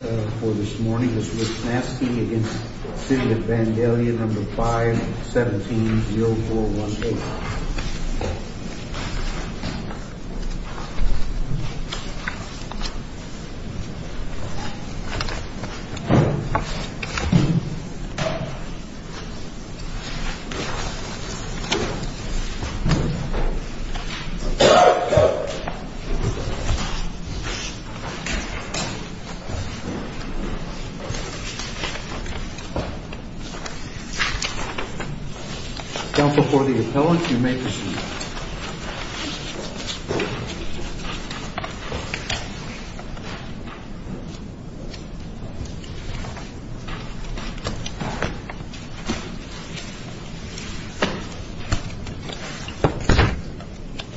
For this morning, this is Vansky v. City of Vandalia, number 517-0418. Down before the appellant, you may be seated.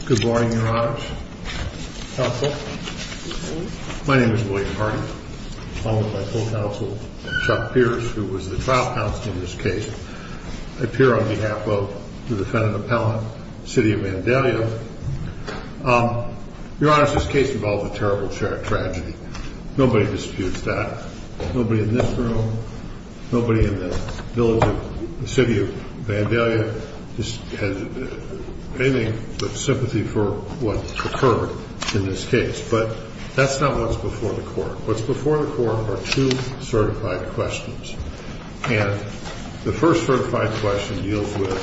Good morning, your honors. Counsel. My name is William Hardy. Along with my full counsel, Chuck Pierce, who was the trial counsel in this case, I appear on behalf of the defendant appellant, City of Vandalia. Your honors, this case involved a terrible tragedy. Nobody disputes that. Nobody in this room, nobody in the village of the City of Vandalia has anything but sympathy for what occurred in this case. But that's not what's before the court. What's before the court are two certified questions. And the first certified question deals with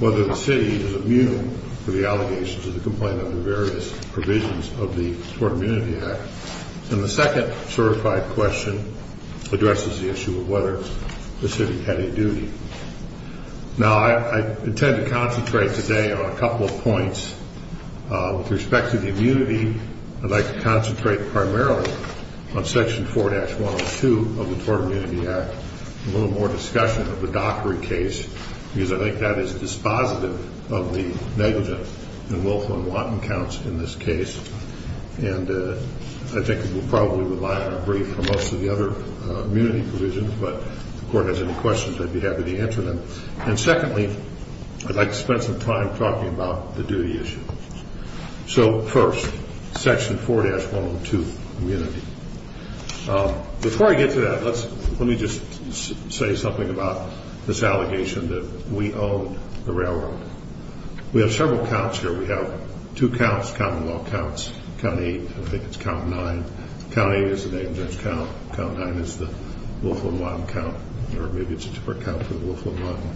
whether the city is immune to the allegations of the complaint under various provisions of the Tort Immunity Act. And the second certified question addresses the issue of whether the city had a duty. Now, I intend to concentrate today on a couple of points with respect to the immunity. I'd like to concentrate primarily on Section 4-102 of the Tort Immunity Act and a little more discussion of the Dockery case because I think that is dispositive of the negligence and willful and wanton counts in this case. And I think we'll probably rely on a brief for most of the other immunity provisions, but if the court has any questions, I'd be happy to answer them. And secondly, I'd like to spend some time talking about the duty issues. So first, Section 4-102, immunity. Before I get to that, let me just say something about this allegation that we own the railroad. We have several counts here. We have two counts, Commonwealth counts. Count 8, I think it's Count 9. Count 8 is the negligence count. Count 9 is the willful and wanton count. Or maybe it's a different count for the willful and wanton.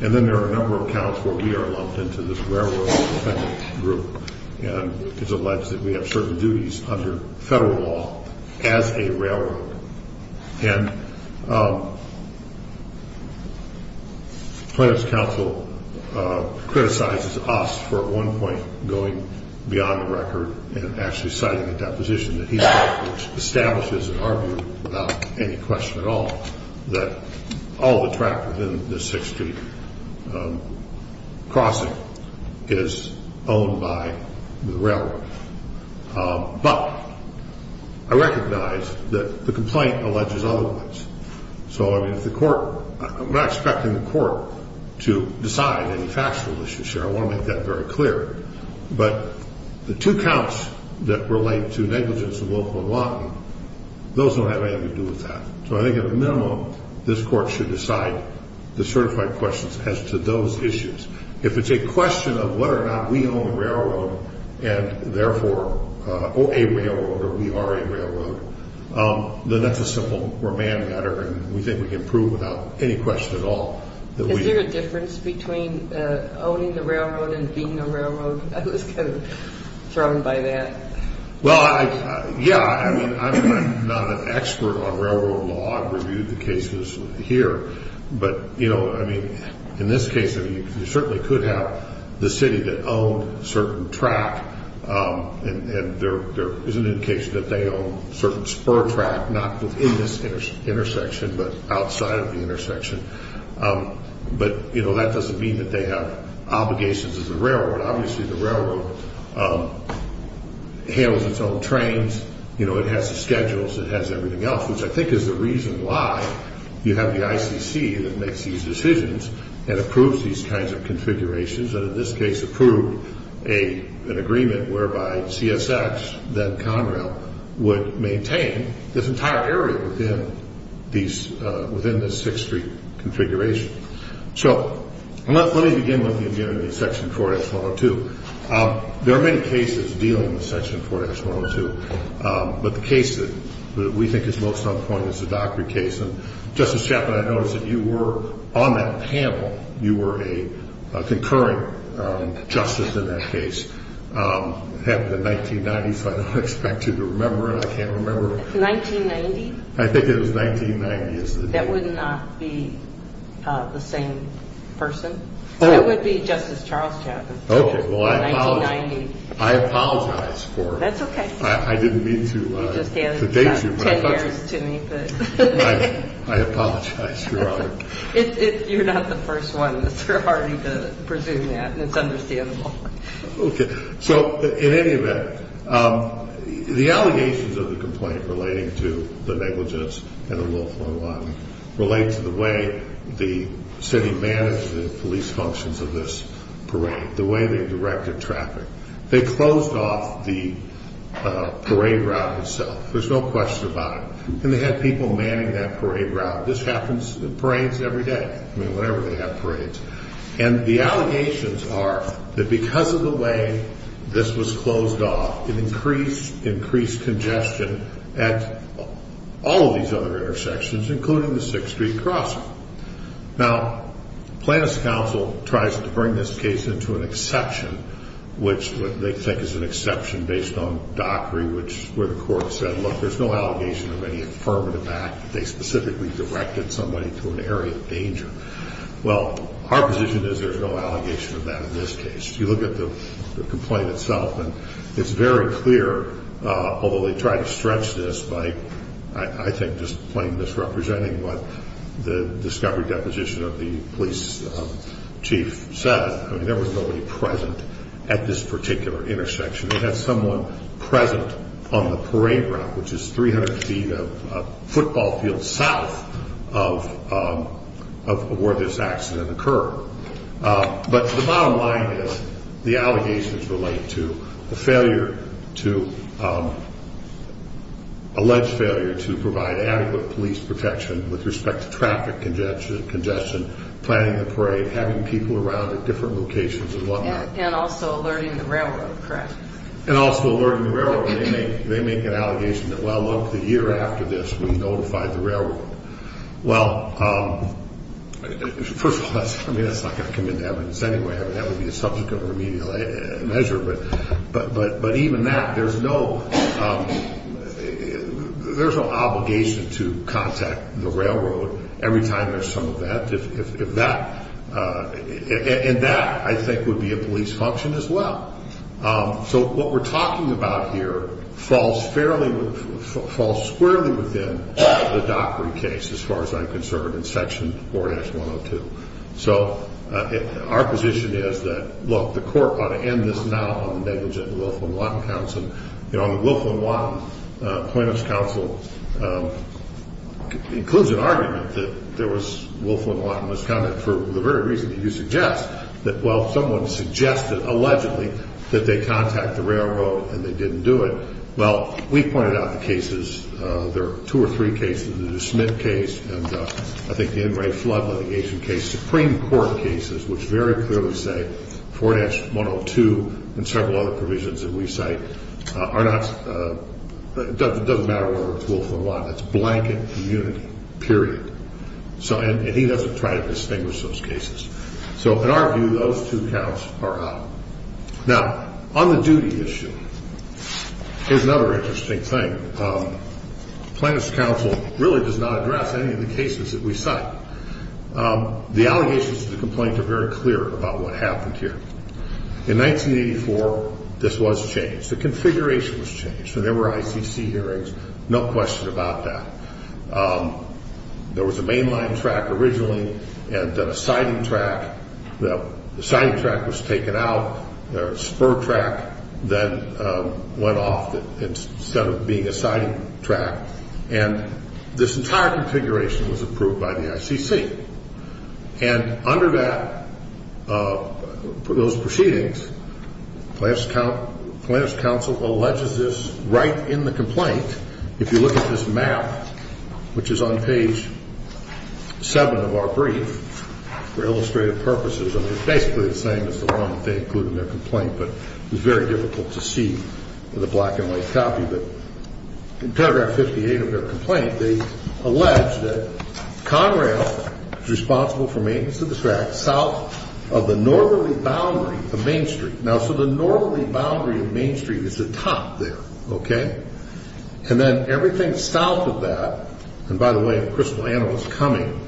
And then there are a number of counts where we are lumped into this railroad group and it's alleged that we have certain duties under federal law as a railroad. And the plaintiff's counsel criticizes us for at one point going beyond the record and actually citing a deposition that he established and argued without any question at all that all the traffic in the 6th Street crossing is owned by the railroad. But I recognize that the complaint alleges otherwise. So I'm not expecting the court to decide any factual issues here. I want to make that very clear. But the two counts that relate to negligence and willful and wanton, those don't have anything to do with that. So I think at the minimum, this court should decide the certified questions as to those issues. If it's a question of whether or not we own the railroad and therefore a railroad or we are a railroad, then that's a simple remand matter, and we think we can prove without any question at all. Is there a difference between owning the railroad and being a railroad? I was kind of thrown by that. Well, yeah. I mean, I'm not an expert on railroad law. I've reviewed the cases here. But, you know, I mean, in this case, you certainly could have the city that owned certain track, and there is an indication that they own certain spur track, not within this intersection but outside of the intersection. But, you know, that doesn't mean that they have obligations as a railroad. Obviously, the railroad handles its own trains. You know, it has the schedules. It has everything else, which I think is the reason why you have the ICC that makes these decisions and approves these kinds of configurations, and in this case approved an agreement whereby CSX, then Conrail, would maintain this entire area within this 6th Street configuration. So let me begin with the agenda of Section 4-102. There are many cases dealing with Section 4-102. But the case that we think is most on point is the Dockery case. And, Justice Chapman, I noticed that you were on that panel. You were a concurrent justice in that case. It happened in 1990, so I don't expect you to remember it. I can't remember. 1990? I think it was 1990. That would not be the same person. It would be Justice Charles Chapman. Okay. Well, I apologize for it. That's okay. I didn't mean to date you. You just handed 10 years to me. I apologize for it. You're not the first one, Mr. Hardy, to presume that. It's understandable. Okay. So, in any event, the allegations of the complaint relating to the negligence and the low-flowing water relate to the way the city managed the police functions of this parade, the way they directed traffic. They closed off the parade route itself. There's no question about it. And they had people manning that parade route. This happens at parades every day. I mean, whenever they have parades. And the allegations are that because of the way this was closed off, it increased congestion at all of these other intersections, including the 6th Street crossing. Now, Plaintiffs' Counsel tries to bring this case into an exception, which they think is an exception based on Dockery, which is where the court said, look, there's no allegation of any affirmative act. They specifically directed somebody to an area of danger. Well, our position is there's no allegation of that in this case. You look at the complaint itself, and it's very clear, although they try to stretch this by, I think, just plain misrepresenting what the discovery deposition of the police chief said. I mean, there was nobody present at this particular intersection. They had someone present on the parade route, which is 300 feet of football field south of where this accident occurred. But the bottom line is the allegations relate to the alleged failure to provide adequate police protection with respect to traffic congestion, planning the parade, having people around at different locations and whatnot. And also alerting the railroad, correct? And also alerting the railroad. They make an allegation that, well, look, the year after this, we notified the railroad. Well, first of all, I mean, that's not going to come into evidence anyway. That would be a subject of remedial measure. But even that, there's no obligation to contact the railroad every time there's some of that. And that, I think, would be a police function as well. So what we're talking about here falls fairly – falls squarely within the Dockery case, as far as I'm concerned, in Section 4-102. So our position is that, look, the court ought to end this now on the negligent Wilflin-Watton counts. And on the Wilflin-Watton plaintiff's counsel, it includes an argument that there was – Wilflin-Watton was counted for the very reason that you suggest, that, well, someone suggested, allegedly, that they contact the railroad and they didn't do it. Well, we pointed out the cases. There are two or three cases, the Smith case and, I think, the Enright flood litigation case, Supreme Court cases, which very clearly say 4-102 and several other provisions that we cite are not – doesn't matter whether it's Wilflin-Watton. It's blanket immunity, period. And he doesn't try to distinguish those cases. So in our view, those two counts are out. Now, on the duty issue, here's another interesting thing. Plaintiff's counsel really does not address any of the cases that we cite. The allegations of the complaint are very clear about what happened here. In 1984, this was changed. The configuration was changed. There were ICC hearings, no question about that. There was a mainline track originally and then a siding track. The siding track was taken out. There was a spur track that went off instead of being a siding track. And this entire configuration was approved by the ICC. And under that, those proceedings, plaintiff's counsel alleges this right in the complaint. If you look at this map, which is on page 7 of our brief, for illustrative purposes, I mean, it's basically the same as the one that they include in their complaint, but it was very difficult to see with a black-and-white copy. But in paragraph 58 of their complaint, they allege that Conrail is responsible for maintenance of the track south of the northerly boundary of Main Street. Now, so the northerly boundary of Main Street is the top there, okay? And then everything south of that, and by the way, a crystal anvil is coming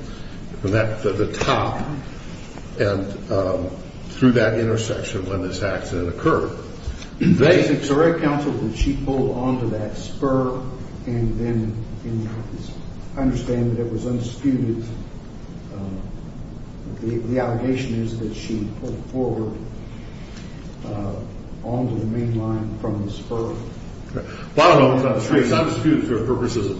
from the top and through that intersection when this accident occurred. So her counsel, did she pull onto that spur and then understand that it was undisputed? The allegation is that she pulled forward onto the mainline from the spur. Well, I don't know if it's undisputed. It's undisputed for the purposes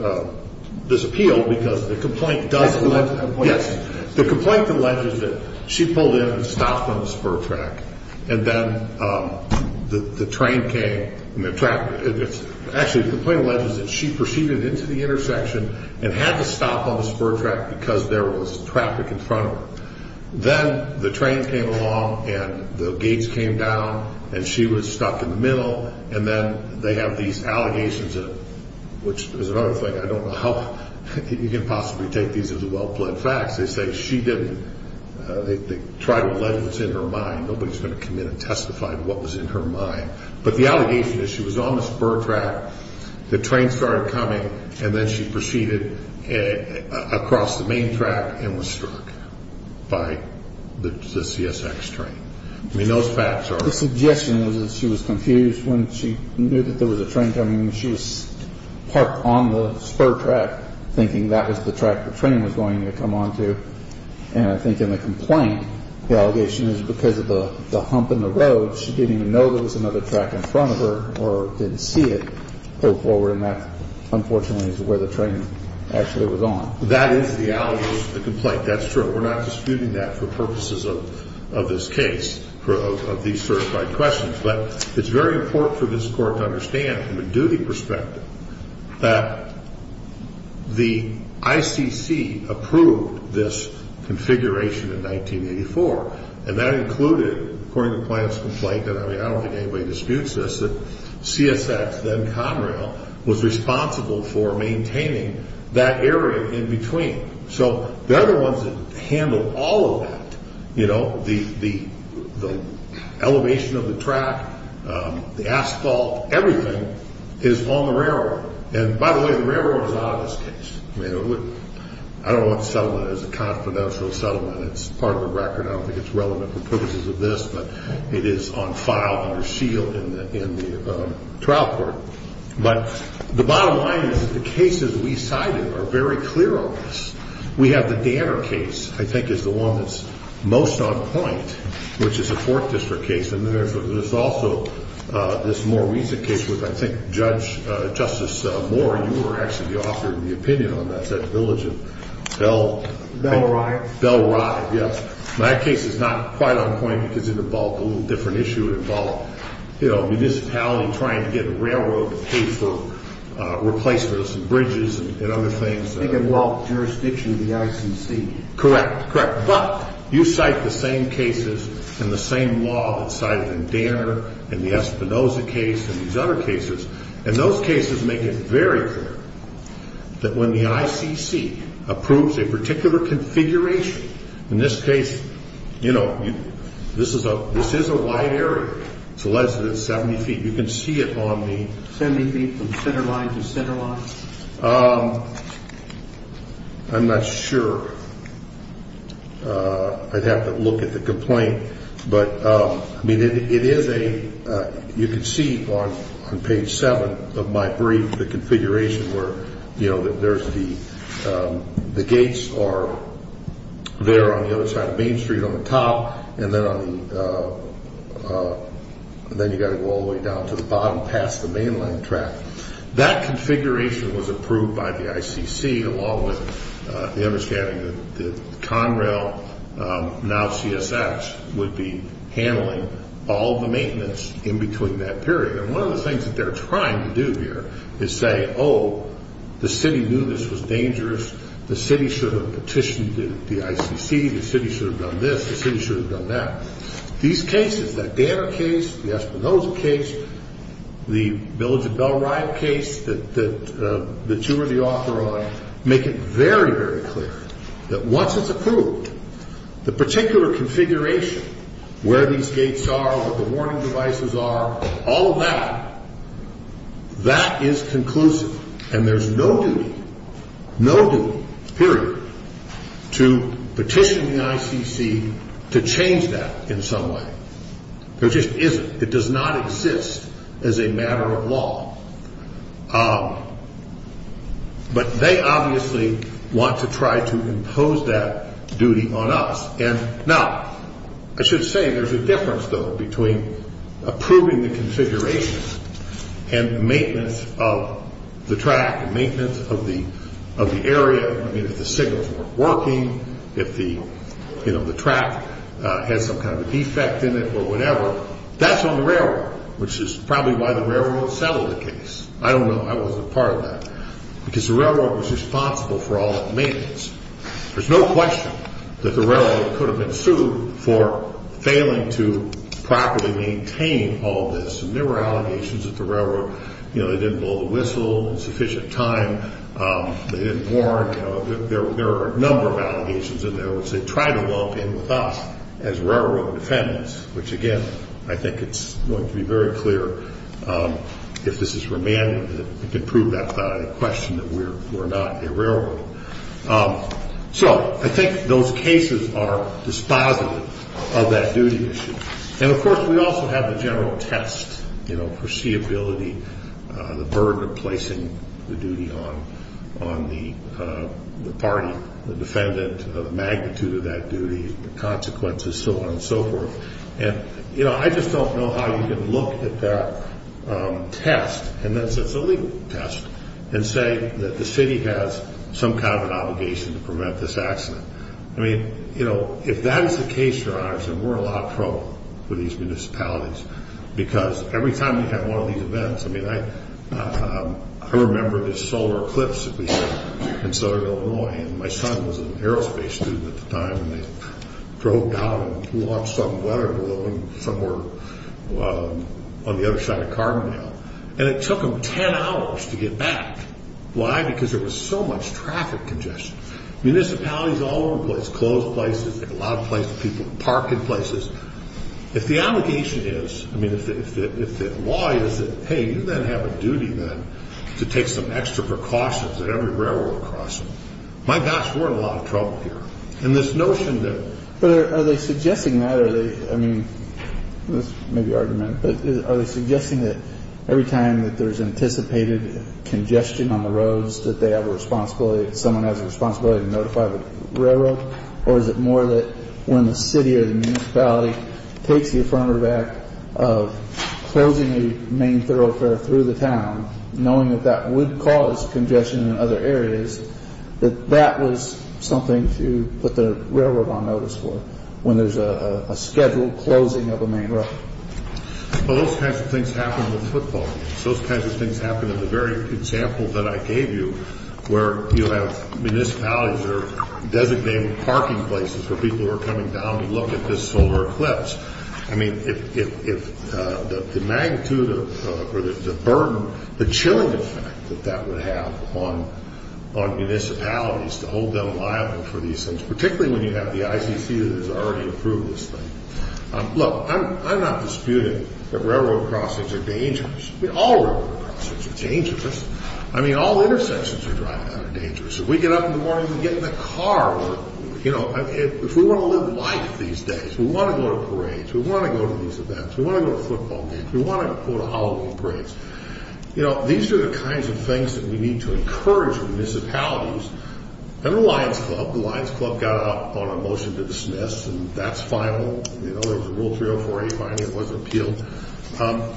of this appeal because the complaint does allege that. Yes. The complaint alleges that she pulled in and stopped on the spur track, and then the train came. Actually, the complaint alleges that she proceeded into the intersection and had to stop on the spur track because there was traffic in front of her. Then the trains came along and the gates came down, and she was stuck in the middle, and then they have these allegations, which is another thing. I don't know how you can possibly take these as well-pled facts. They say she didn't. They try to allege what's in her mind. Nobody's going to come in and testify to what was in her mind. But the allegation is she was on the spur track, the train started coming, and then she proceeded across the main track and was struck by the CSX train. I mean, those facts are- The suggestion was that she was confused when she knew that there was a train coming and she was parked on the spur track, thinking that was the track the train was going to come onto. And I think in the complaint, the allegation is because of the hump in the road, she didn't even know there was another track in front of her or didn't see it, and that, unfortunately, is where the train actually was on. That is the allegation of the complaint. That's true. We're not disputing that for purposes of this case, of these certified questions. But it's very important for this Court to understand from a duty perspective that the ICC approved this configuration in 1984, and that included, according to Plante's complaint, and I don't think anybody disputes this, that CSX, then Conrail, was responsible for maintaining that area in between. So they're the ones that handled all of that. The elevation of the track, the asphalt, everything is on the railroad. And by the way, the railroad is not on this case. I don't want to sell it as a confidential settlement. It's part of the record. I don't think it's relevant for purposes of this, but it is on file, under seal, in the trial court. But the bottom line is that the cases we cited are very clear on this. We have the Danner case, I think, is the one that's most on point, which is a 4th District case. And there's also this more recent case with, I think, Judge Justice Moore. You were actually the author of the opinion on that, that village of Bell. Bell Rye. Bell Rye, yes. That case is not quite on point because it involved a little different issue. It involved, you know, municipality trying to get a railroad to pay for replacements and bridges and other things. It involved jurisdiction of the ICC. Correct, correct. But you cite the same cases and the same law that's cited in Danner and the Espinoza case and these other cases. And those cases make it very clear that when the ICC approves a particular configuration, in this case, you know, this is a wide area. It's less than 70 feet. You can see it on the 70 feet from center line to center line. I'm not sure. I'd have to look at the complaint. But, I mean, it is a, you can see on page 7 of my brief the configuration where, you know, there's the gates are there on the other side of Main Street on the top, and then on the, then you've got to go all the way down to the bottom past the mainline track. That configuration was approved by the ICC along with the understanding that Conrail, now CSX, would be handling all the maintenance in between that period. And one of the things that they're trying to do here is say, oh, the city knew this was dangerous. The city should have petitioned the ICC. The city should have done this. The city should have done that. These cases, that Dana case, the Espinosa case, the Village of Bellryle case that you were the author on, make it very, very clear that once it's approved, the particular configuration, where these gates are, what the warning devices are, all of that, that is conclusive. And there's no duty, no duty, period, to petition the ICC to change that in some way. There just isn't. It does not exist as a matter of law. But they obviously want to try to impose that duty on us. Now, I should say there's a difference, though, between approving the configuration and the maintenance of the track and maintenance of the area. I mean, if the signals weren't working, if the track had some kind of a defect in it or whatever, that's on the railroad, which is probably why the railroad settled the case. I don't know. I wasn't a part of that. Because the railroad was responsible for all that maintenance. There's no question that the railroad could have been sued for failing to properly maintain all this. And there were allegations that the railroad, you know, they didn't blow the whistle in sufficient time. They didn't warn. There are a number of allegations in there which they tried to lump in with us as railroad defendants, which, again, I think it's going to be very clear, if this is remanded, that it can prove without question that we're not a railroad. So I think those cases are dispositive of that duty issue. And, of course, we also have the general test, you know, foreseeability, the burden of placing the duty on the party, the defendant, the magnitude of that duty, the consequences, so on and so forth. And, you know, I just don't know how you can look at that test, and that's a legal test, and say that the city has some kind of an obligation to prevent this accident. I mean, you know, if that is the case, Your Honors, then we're in a lot of trouble for these municipalities. Because every time we have one of these events, I mean, I remember this solar eclipse that we had in southern Illinois. And my son was an aerospace student at the time. And they drove down and launched some weather balloon somewhere on the other side of Carbondale. And it took them ten hours to get back. Why? Because there was so much traffic congestion. Municipalities all over the place, closed places, a lot of places, people parking places. If the obligation is, I mean, if the law is that, hey, you then have a duty then to take some extra precautions at every railroad crossing. My gosh, we're in a lot of trouble here. And this notion that... But are they suggesting that, or are they, I mean, this may be argument, but are they suggesting that every time that there's anticipated congestion on the roads, that they have a responsibility, that someone has a responsibility to notify the railroad? Or is it more that when the city or the municipality takes the affirmative act of closing a main thoroughfare through the town, knowing that that would cause congestion in other areas, that that was something to put the railroad on notice for when there's a scheduled closing of a main road? Well, those kinds of things happen in football games. Those kinds of things happen in the very example that I gave you where you have municipalities or designated parking places for people who are coming down to look at this solar eclipse. I mean, if the magnitude or the burden, the chilling effect that that would have on municipalities to hold them liable for these things, particularly when you have the ICC that has already approved this thing. Look, I'm not disputing that railroad crossings are dangerous. I mean, all railroad crossings are dangerous. I mean, all intersections you're driving at are dangerous. If we get up in the morning and get in the car or, you know, if we want to live life these days, we want to go to parades, we want to go to these events, we want to go to football games, we want to go to Halloween parades. You know, these are the kinds of things that we need to encourage municipalities. And the Lions Club, the Lions Club got out on a motion to dismiss, and that's final. You know, there was a Rule 304A finding that wasn't appealed.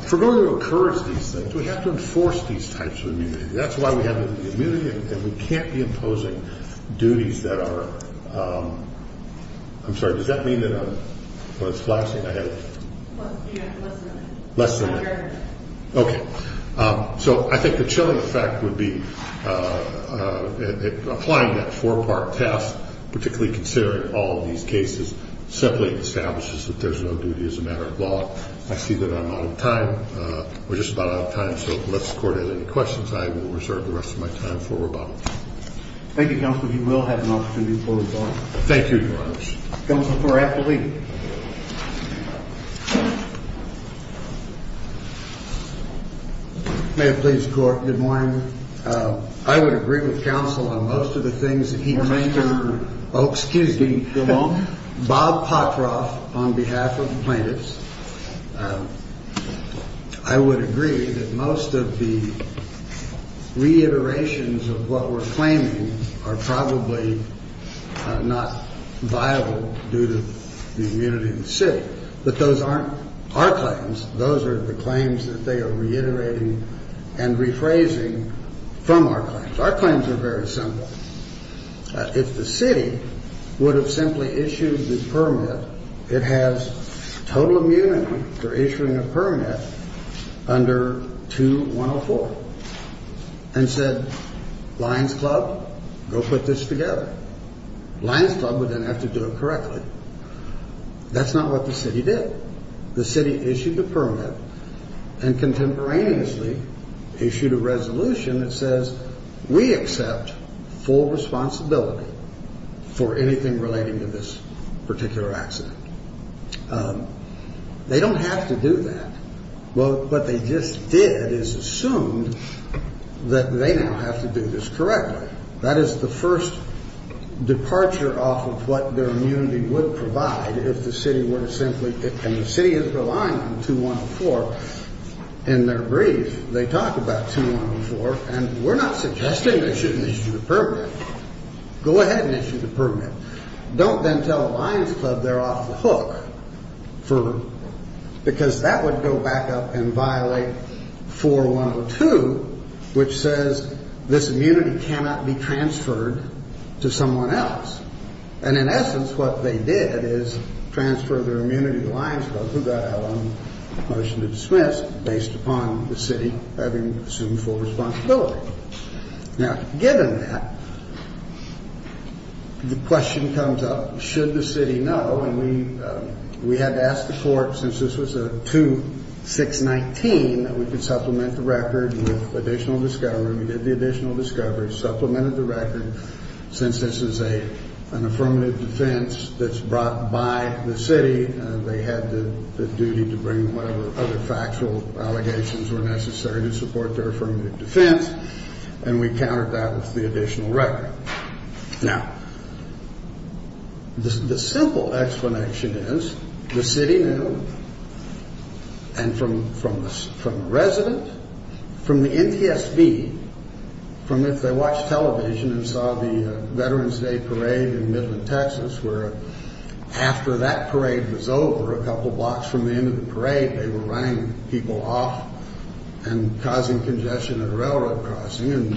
For going to encourage these things, we have to enforce these types of immunity. I'm sorry, does that mean that I'm flashing? Less than that. Okay. So I think the chilling effect would be applying that four-part test, particularly considering all of these cases, simply establishes that there's no duty as a matter of law. I see that I'm out of time. We're just about out of time, so unless the Court has any questions, I will reserve the rest of my time for rebuttal. Thank you, Counselor. You will have an opportunity to pull rebuttal. Thank you, Your Honor. Counsel for Appellee. May it please the Court, good morning. I would agree with Counsel on most of the things that he concerned. Oh, excuse me. Go on. Bob Potroff, on behalf of the plaintiffs, I would agree that most of the reiterations of what we're claiming are probably not viable due to the immunity of the city. But those aren't our claims. Those are the claims that they are reiterating and rephrasing from our claims. Our claims are very simple. If the city would have simply issued the permit, it has total immunity for issuing a permit under 2-104 and said, Lions Club, go put this together. Lions Club would then have to do it correctly. That's not what the city did. The city issued the permit and contemporaneously issued a resolution that says we accept full responsibility for anything relating to this particular accident. They don't have to do that. What they just did is assume that they now have to do this correctly. That is the first departure off of what their immunity would provide if the city were to simply, and the city is relying on 2-104 in their brief. They talk about 2-104, and we're not suggesting they shouldn't issue the permit. Go ahead and issue the permit. Don't then tell Lions Club they're off the hook because that would go back up and violate 4-102, which says this immunity cannot be transferred to someone else. And in essence, what they did is transfer their immunity to Lions Club, who got out on a motion to dismiss based upon the city having assumed full responsibility. Now, given that, the question comes up, should the city know? And we had to ask the court, since this was a 2-619, that we could supplement the record with additional discovery. We did the additional discovery, supplemented the record. Since this is an affirmative defense that's brought by the city, they had the duty to bring whatever other factual allegations were necessary to support their affirmative defense, and we countered that with the additional record. Now, the simple explanation is the city knew, and from the resident, from the NTSB, from if they watched television and saw the Veterans Day parade in Midland, Texas, where after that parade was over, a couple blocks from the end of the parade, they were running people off and causing congestion at a railroad crossing, and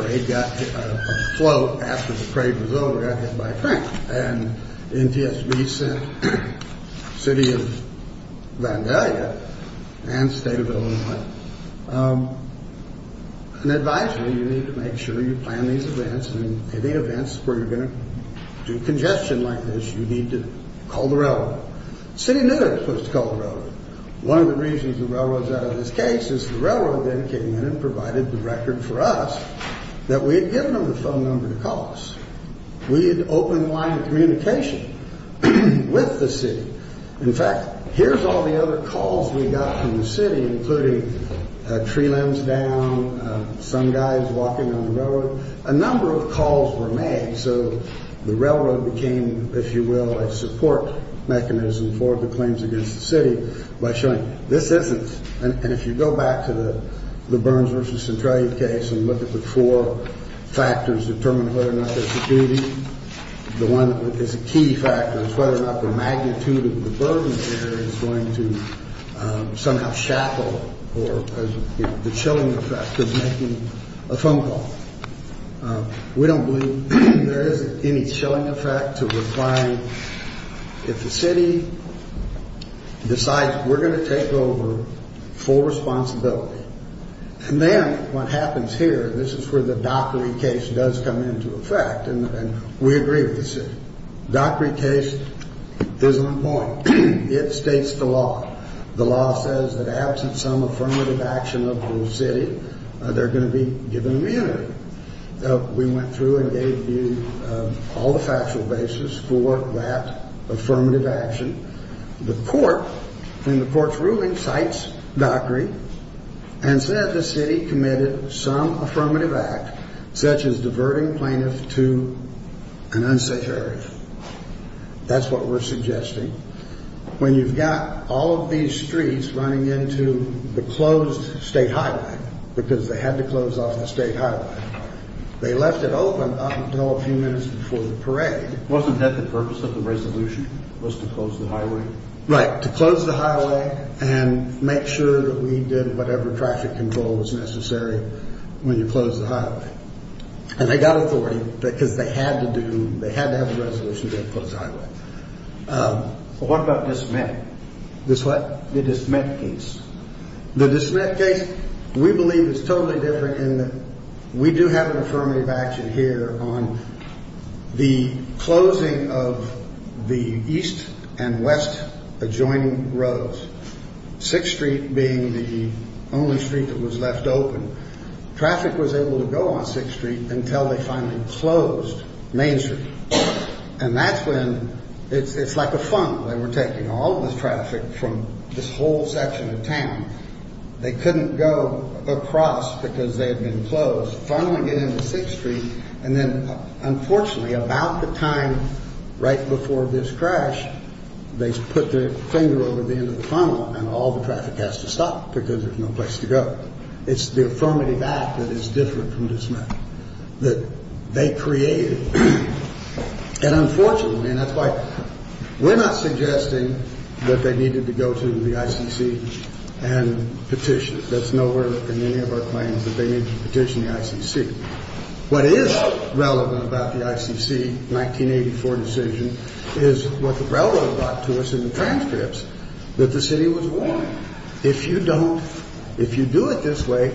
a float after the parade was over got hit by a train. And NTSB sent the city of Vandalia and the state of Illinois. And advised me, you need to make sure you plan these events, and in any events where you're going to do congestion like this, you need to call the railroad. The city knew they were supposed to call the railroad. One of the reasons the railroad is out of this case is the railroad then came in and provided the record for us that we had given them the phone number to call us. We had opened the line of communication with the city. In fact, here's all the other calls we got from the city, including tree limbs down, some guys walking on the railroad. A number of calls were made, so the railroad became, if you will, a support mechanism for the claims against the city by showing this isn't. And if you go back to the Burns v. Centralia case and look at the four factors determining whether or not there's a duty, the one that is a key factor is whether or not the magnitude of the burden there is going to somehow shackle the chilling effect of making a phone call. We don't believe there is any chilling effect to replying. If the city decides we're going to take over full responsibility, and then what happens here, this is where the Dockery case does come into effect, and we agree with the city. Dockery case is on point. It states the law. The law says that absent some affirmative action of the city, they're going to be given immunity. We went through and gave you all the factual basis for that affirmative action. The court, in the court's ruling, cites Dockery and said the city committed some affirmative act, such as diverting plaintiffs to an unsafe area. That's what we're suggesting. When you've got all of these streets running into the closed state highway, because they had to close off the state highway, they left it open up until a few minutes before the parade. Wasn't that the purpose of the resolution, was to close the highway? Right, to close the highway and make sure that we did whatever traffic control was necessary when you closed the highway. And they got authority because they had to do, they had to have a resolution to close the highway. What about Dismint? Dismint? The Dismint case. The Dismint case, we believe is totally different in that we do have an affirmative action here on the closing of the east and west adjoining roads, 6th Street being the only street that was left open. Traffic was able to go on 6th Street until they finally closed Main Street. And that's when, it's like a funnel. They were taking all of the traffic from this whole section of town. They couldn't go across because they had been closed, funneling it into 6th Street. And then, unfortunately, about the time right before this crash, they put their finger over the end of the funnel and all the traffic has to stop because there's no place to go. It's the affirmative act that is different from Dismint, that they created. And unfortunately, and that's why we're not suggesting that they needed to go to the ICC and petition. That's no where in any of our claims that they need to petition the ICC. What is relevant about the ICC 1984 decision is what the railroad brought to us in the transcripts, that the city was warned. If you don't, if you do it this way,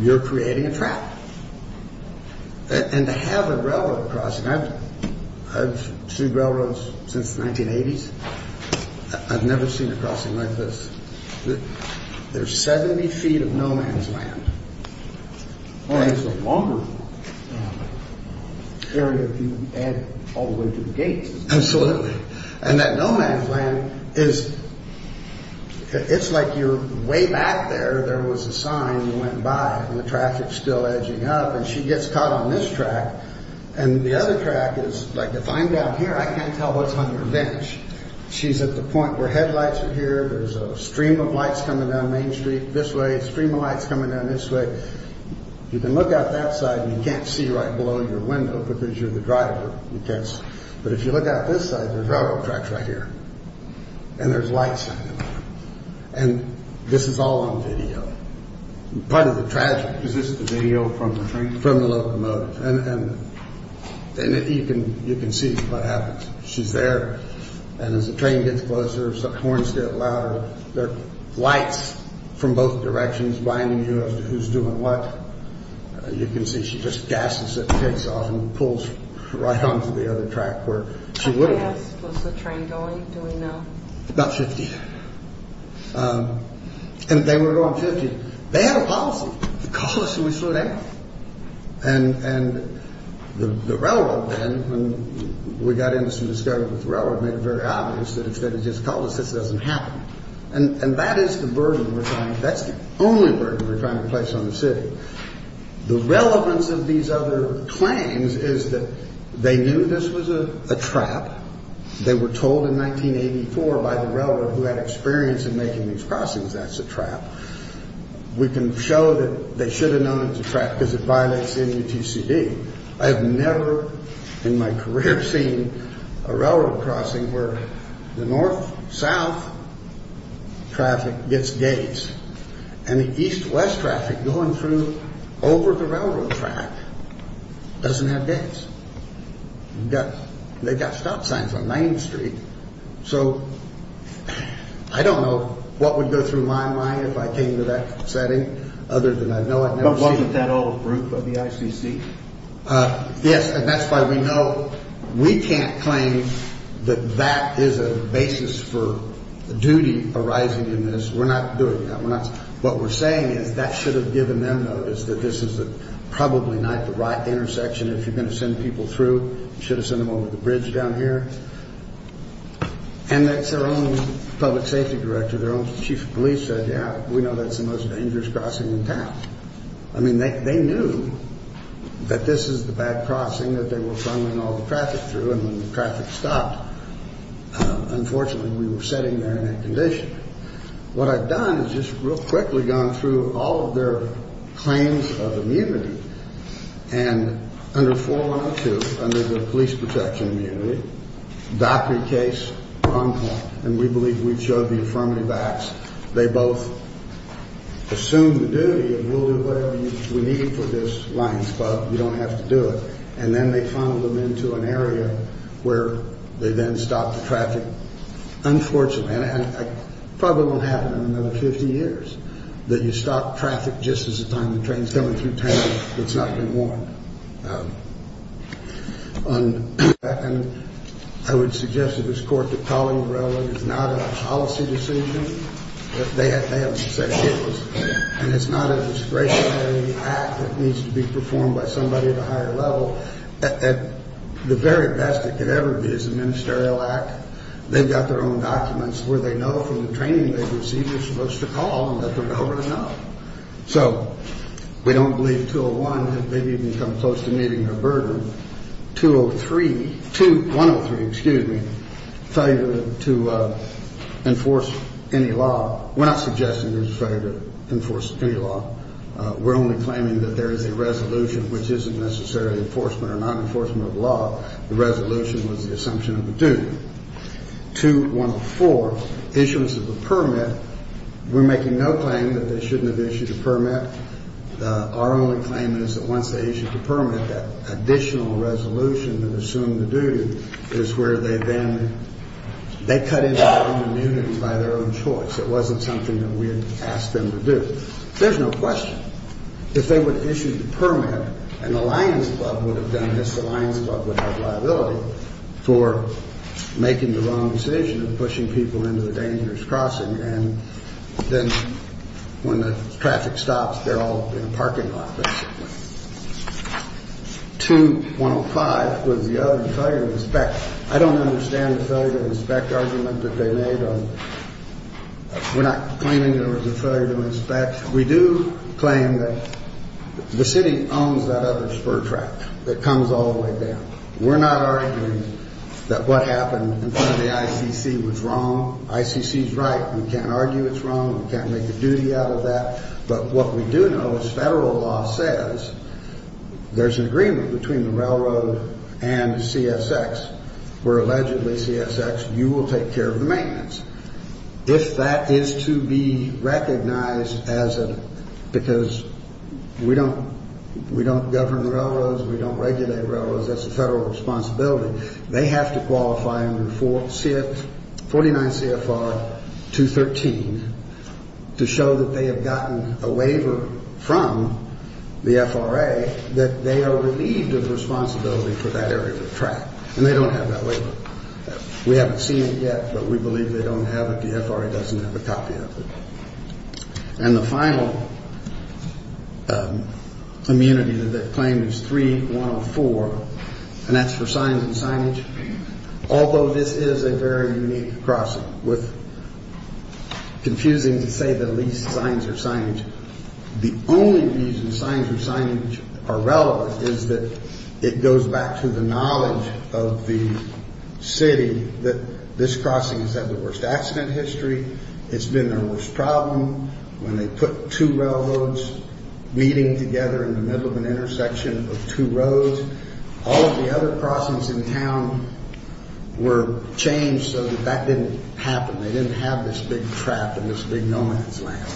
you're creating a trap. And to have a railroad crossing, I've sued railroads since the 1980s. I've never seen a crossing like this. There's 70 feet of no man's land. It's a longer area if you add all the way to the gates. Absolutely. And that no man's land is, it's like you're way back there, there was a sign, you went by, and the traffic's still edging up. And she gets caught on this track. And the other track is, like, if I'm down here, I can't tell what's on your bench. She's at the point where headlights are here. There's a stream of lights coming down Main Street this way, a stream of lights coming down this way. You can look out that side and you can't see right below your window because you're the driver. But if you look out this side, there's railroad tracks right here. And there's lights. And this is all on video. Part of the tragedy. Is this the video from the train? From the locomotive. And you can see what happens. She's there. And as the train gets closer, horns get louder. There are lights from both directions blinding you as to who's doing what. You can see she just gasses it and takes off and pulls right onto the other track where she would have. How fast was the train going? Do we know? About 50. And they were going 50. They had a policy. They called us and we flew down. And the railroad then, when we got in and started with the railroad, made it very obvious that instead of just calling us, this doesn't happen. And that is the burden we're trying. That's the only burden we're trying to place on the city. The relevance of these other claims is that they knew this was a trap. They were told in 1984 by the railroad who had experience in making these crossings, that's a trap. We can show that they should have known it was a trap because it violates the MUTCD. I have never in my career seen a railroad crossing where the north-south traffic gets gates and the east-west traffic going through over the railroad track doesn't have gates. They've got stop signs on 9th Street. So I don't know what would go through my mind if I came to that setting other than I know I'd never seen it. With that old group of the ICC? Yes, and that's why we know we can't claim that that is a basis for duty arising in this. We're not doing that. What we're saying is that should have given them notice that this is probably not the right intersection. If you're going to send people through, you should have sent them over the bridge down here. And their own public safety director, their own chief of police said, yeah, we know that's the most dangerous crossing in town. I mean, they knew that this is the bad crossing that they were sending all the traffic through. And when the traffic stopped, unfortunately, we were sitting there in that condition. What I've done is just real quickly gone through all of their claims of immunity. And under 412, under the police protection immunity, that pre-case on point. And we believe we've showed the affirmative acts. They both assume the duty of we'll do whatever we need for this line, but we don't have to do it. And then they funnel them into an area where they then stop the traffic. Unfortunately, and probably won't happen in another 50 years, that you stop traffic just as a time the train's coming through town that's not been warned. And I would suggest to this court that calling railroad is not a policy decision. They have said it was. And it's not a discretionary act that needs to be performed by somebody at a higher level. At the very best it could ever be is a ministerial act. They've got their own documents where they know from the training they've received they're supposed to call and let the railroad know. So we don't believe 201 has maybe even come close to meeting their burden. 203, 203, excuse me, failure to enforce any law. We're not suggesting there's a failure to enforce any law. We're only claiming that there is a resolution which isn't necessarily enforcement or non-enforcement of law. The resolution was the assumption of the duty. 2104, issuance of the permit. We're making no claim that they shouldn't have issued a permit. Our only claim is that once they issue the permit, that additional resolution that assumed the duty is where they then, they cut into their own immunity by their own choice. It wasn't something that we had asked them to do. There's no question. If they would have issued the permit and the Lions Club would have done this, the Lions Club would have liability for making the wrong decision of pushing people into the dangerous crossing. And then when the traffic stops, they're all in a parking lot. 2105 was the other failure to inspect. I don't understand the failure to inspect argument that they made. We're not claiming there was a failure to inspect. We do claim that the city owns that other spur track that comes all the way down. We're not arguing that what happened in front of the ICC was wrong. ICC is right. We can't argue it's wrong. We can't make a duty out of that. But what we do know is federal law says there's an agreement between the railroad and CSX, where allegedly CSX, you will take care of the maintenance. If that is to be recognized as a, because we don't, we don't govern the railroads, we don't regulate railroads, that's a federal responsibility. They have to qualify under 49 CFR 213 to show that they have gotten a waiver from the FRA that they are relieved of responsibility for that area of the track. And they don't have that waiver. We haven't seen it yet, but we believe they don't have it. The FRA doesn't have a copy of it. And the final immunity that they claim is 3104, and that's for signs and signage. Although this is a very unique crossing with, confusing to say the least, signs or signage, the only reason signs or signage are relevant is that it goes back to the knowledge of the city that this crossing has had the worst accident history. It's been their worst problem when they put two railroads meeting together in the middle of an intersection of two roads. All of the other crossings in town were changed so that that didn't happen. They didn't have this big trap in this big no man's land.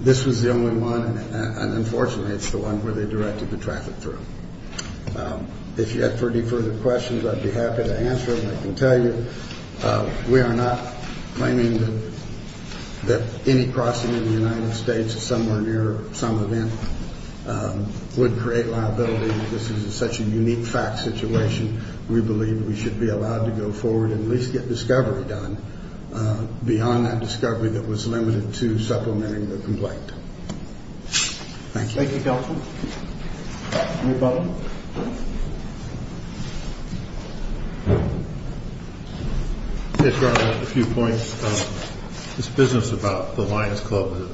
This was the only one, and unfortunately it's the one where they directed the traffic through. If you have any further questions, I'd be happy to answer them. I can tell you we are not claiming that any crossing in the United States somewhere near some event would create liability. This is such a unique fact situation. We believe we should be allowed to go forward and at least get discovery done beyond that discovery that was limited to supplementing the complaint. Thank you. Mayor Bowman. I just want to make a few points. It's business about the Lions Club that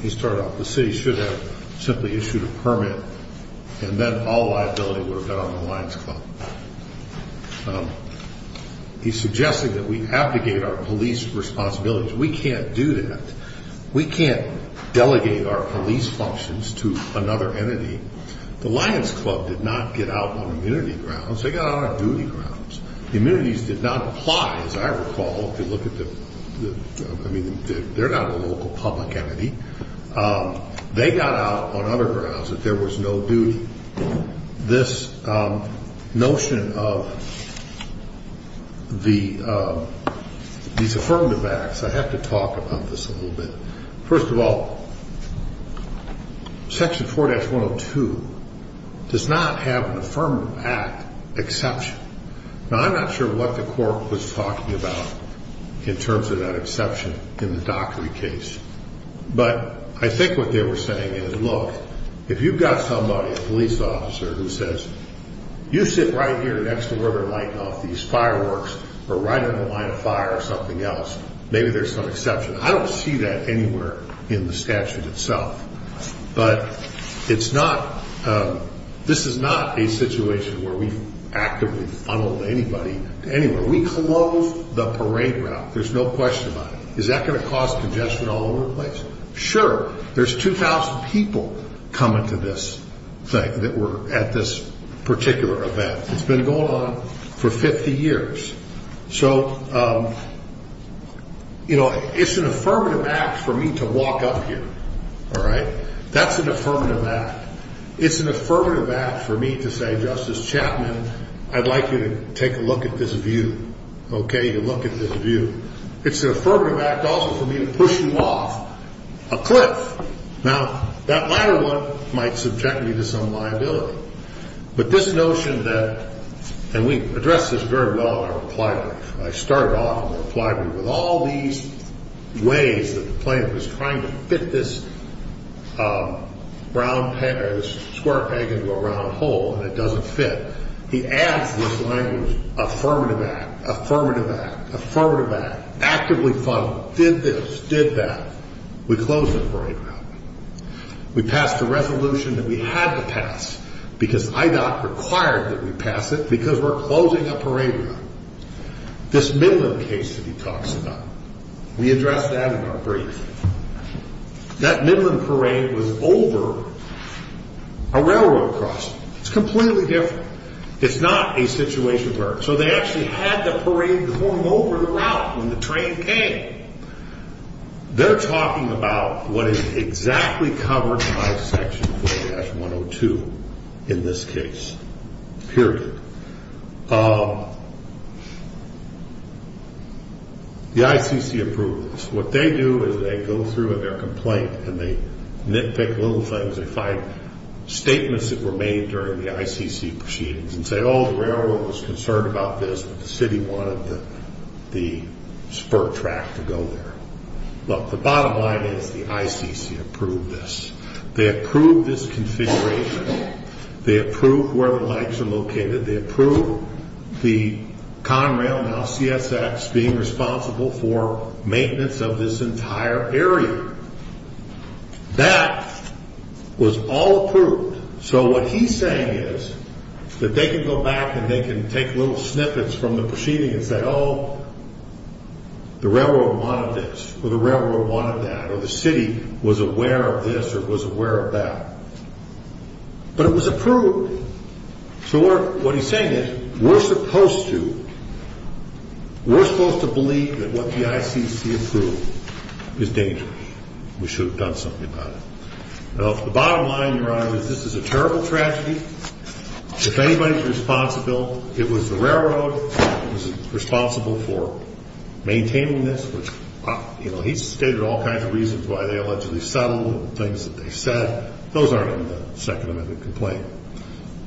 he started off with. The city should have simply issued a permit and then all liability would have been on the Lions Club. He's suggesting that we abdicate our police responsibilities. We can't do that. We can't delegate our police functions to another entity. The Lions Club did not get out on immunity grounds. They got out on duty grounds. The immunities did not apply, as I recall. They're not a local public entity. They got out on other grounds if there was no duty. This notion of these affirmative acts, I have to talk about this a little bit. First of all, Section 4-102 does not have an affirmative act exception. Now, I'm not sure what the court was talking about in terms of that exception in the Dockery case. But I think what they were saying is, look, if you've got somebody, a police officer, who says, you sit right here next to where they're lighting off these fireworks or right on the line of fire or something else, maybe there's some exception. I don't see that anywhere in the statute itself. But this is not a situation where we've actively funneled anybody anywhere. We closed the parade route. There's no question about it. Is that going to cause congestion all over the place? Sure. There's 2,000 people coming to this thing that were at this particular event. It's been going on for 50 years. So, you know, it's an affirmative act for me to walk up here. All right? That's an affirmative act. It's an affirmative act for me to say, Justice Chapman, I'd like you to take a look at this view. Okay? You look at this view. It's an affirmative act also for me to push you off a cliff. Now, that latter one might subject me to some liability. But this notion that, and we addressed this very well in our reply brief. I started off in the reply brief with all these ways that the plaintiff is trying to fit this square peg into a round hole, and it doesn't fit. He adds this language, affirmative act, affirmative act, affirmative act, actively funneled, did this, did that. We closed the parade route. We passed a resolution that we had to pass because IDOC required that we pass it because we're closing a parade route. This Midland case that he talks about, we addressed that in our brief. That Midland parade was over a railroad crossing. It's completely different. It's not a situation where, so they actually had the parade form over the route when the train came. They're talking about what is exactly covered by Section 4-102 in this case, period. The ICC approved this. What they do is they go through their complaint and they nitpick little things. They find statements that were made during the ICC proceedings and say, oh, the railroad was concerned about this, but the city wanted the spur track to go there. Look, the bottom line is the ICC approved this. They approved this configuration. They approved where the legs are located. They approved the Conrail, now CSX, being responsible for maintenance of this entire area. That was all approved. So what he's saying is that they can go back and they can take little snippets from the proceedings and say, oh, the railroad wanted this, or the railroad wanted that, or the city was aware of this or was aware of that. But it was approved. So what he's saying is we're supposed to believe that what the ICC approved is dangerous. We should have done something about it. The bottom line, Your Honor, is this is a terrible tragedy. It's anybody's responsibility. It was the railroad that was responsible for maintaining this. He's stated all kinds of reasons why they allegedly settled, things that they said. Those aren't in the Second Amendment complaint.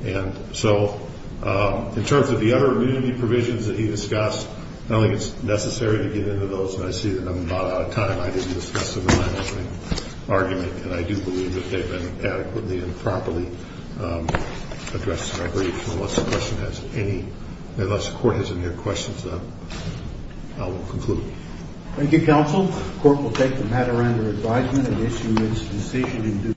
And so in terms of the other immunity provisions that he discussed, I don't think it's necessary to get into those, and I see that I'm about out of time. I didn't discuss them in my opening argument, and I do believe that they've been adequately and properly addressed, and I believe unless the question has any, unless the Court has any other questions, then I will conclude. Thank you, Counsel. The Court will take the matter under advisement and issue its decision in due course.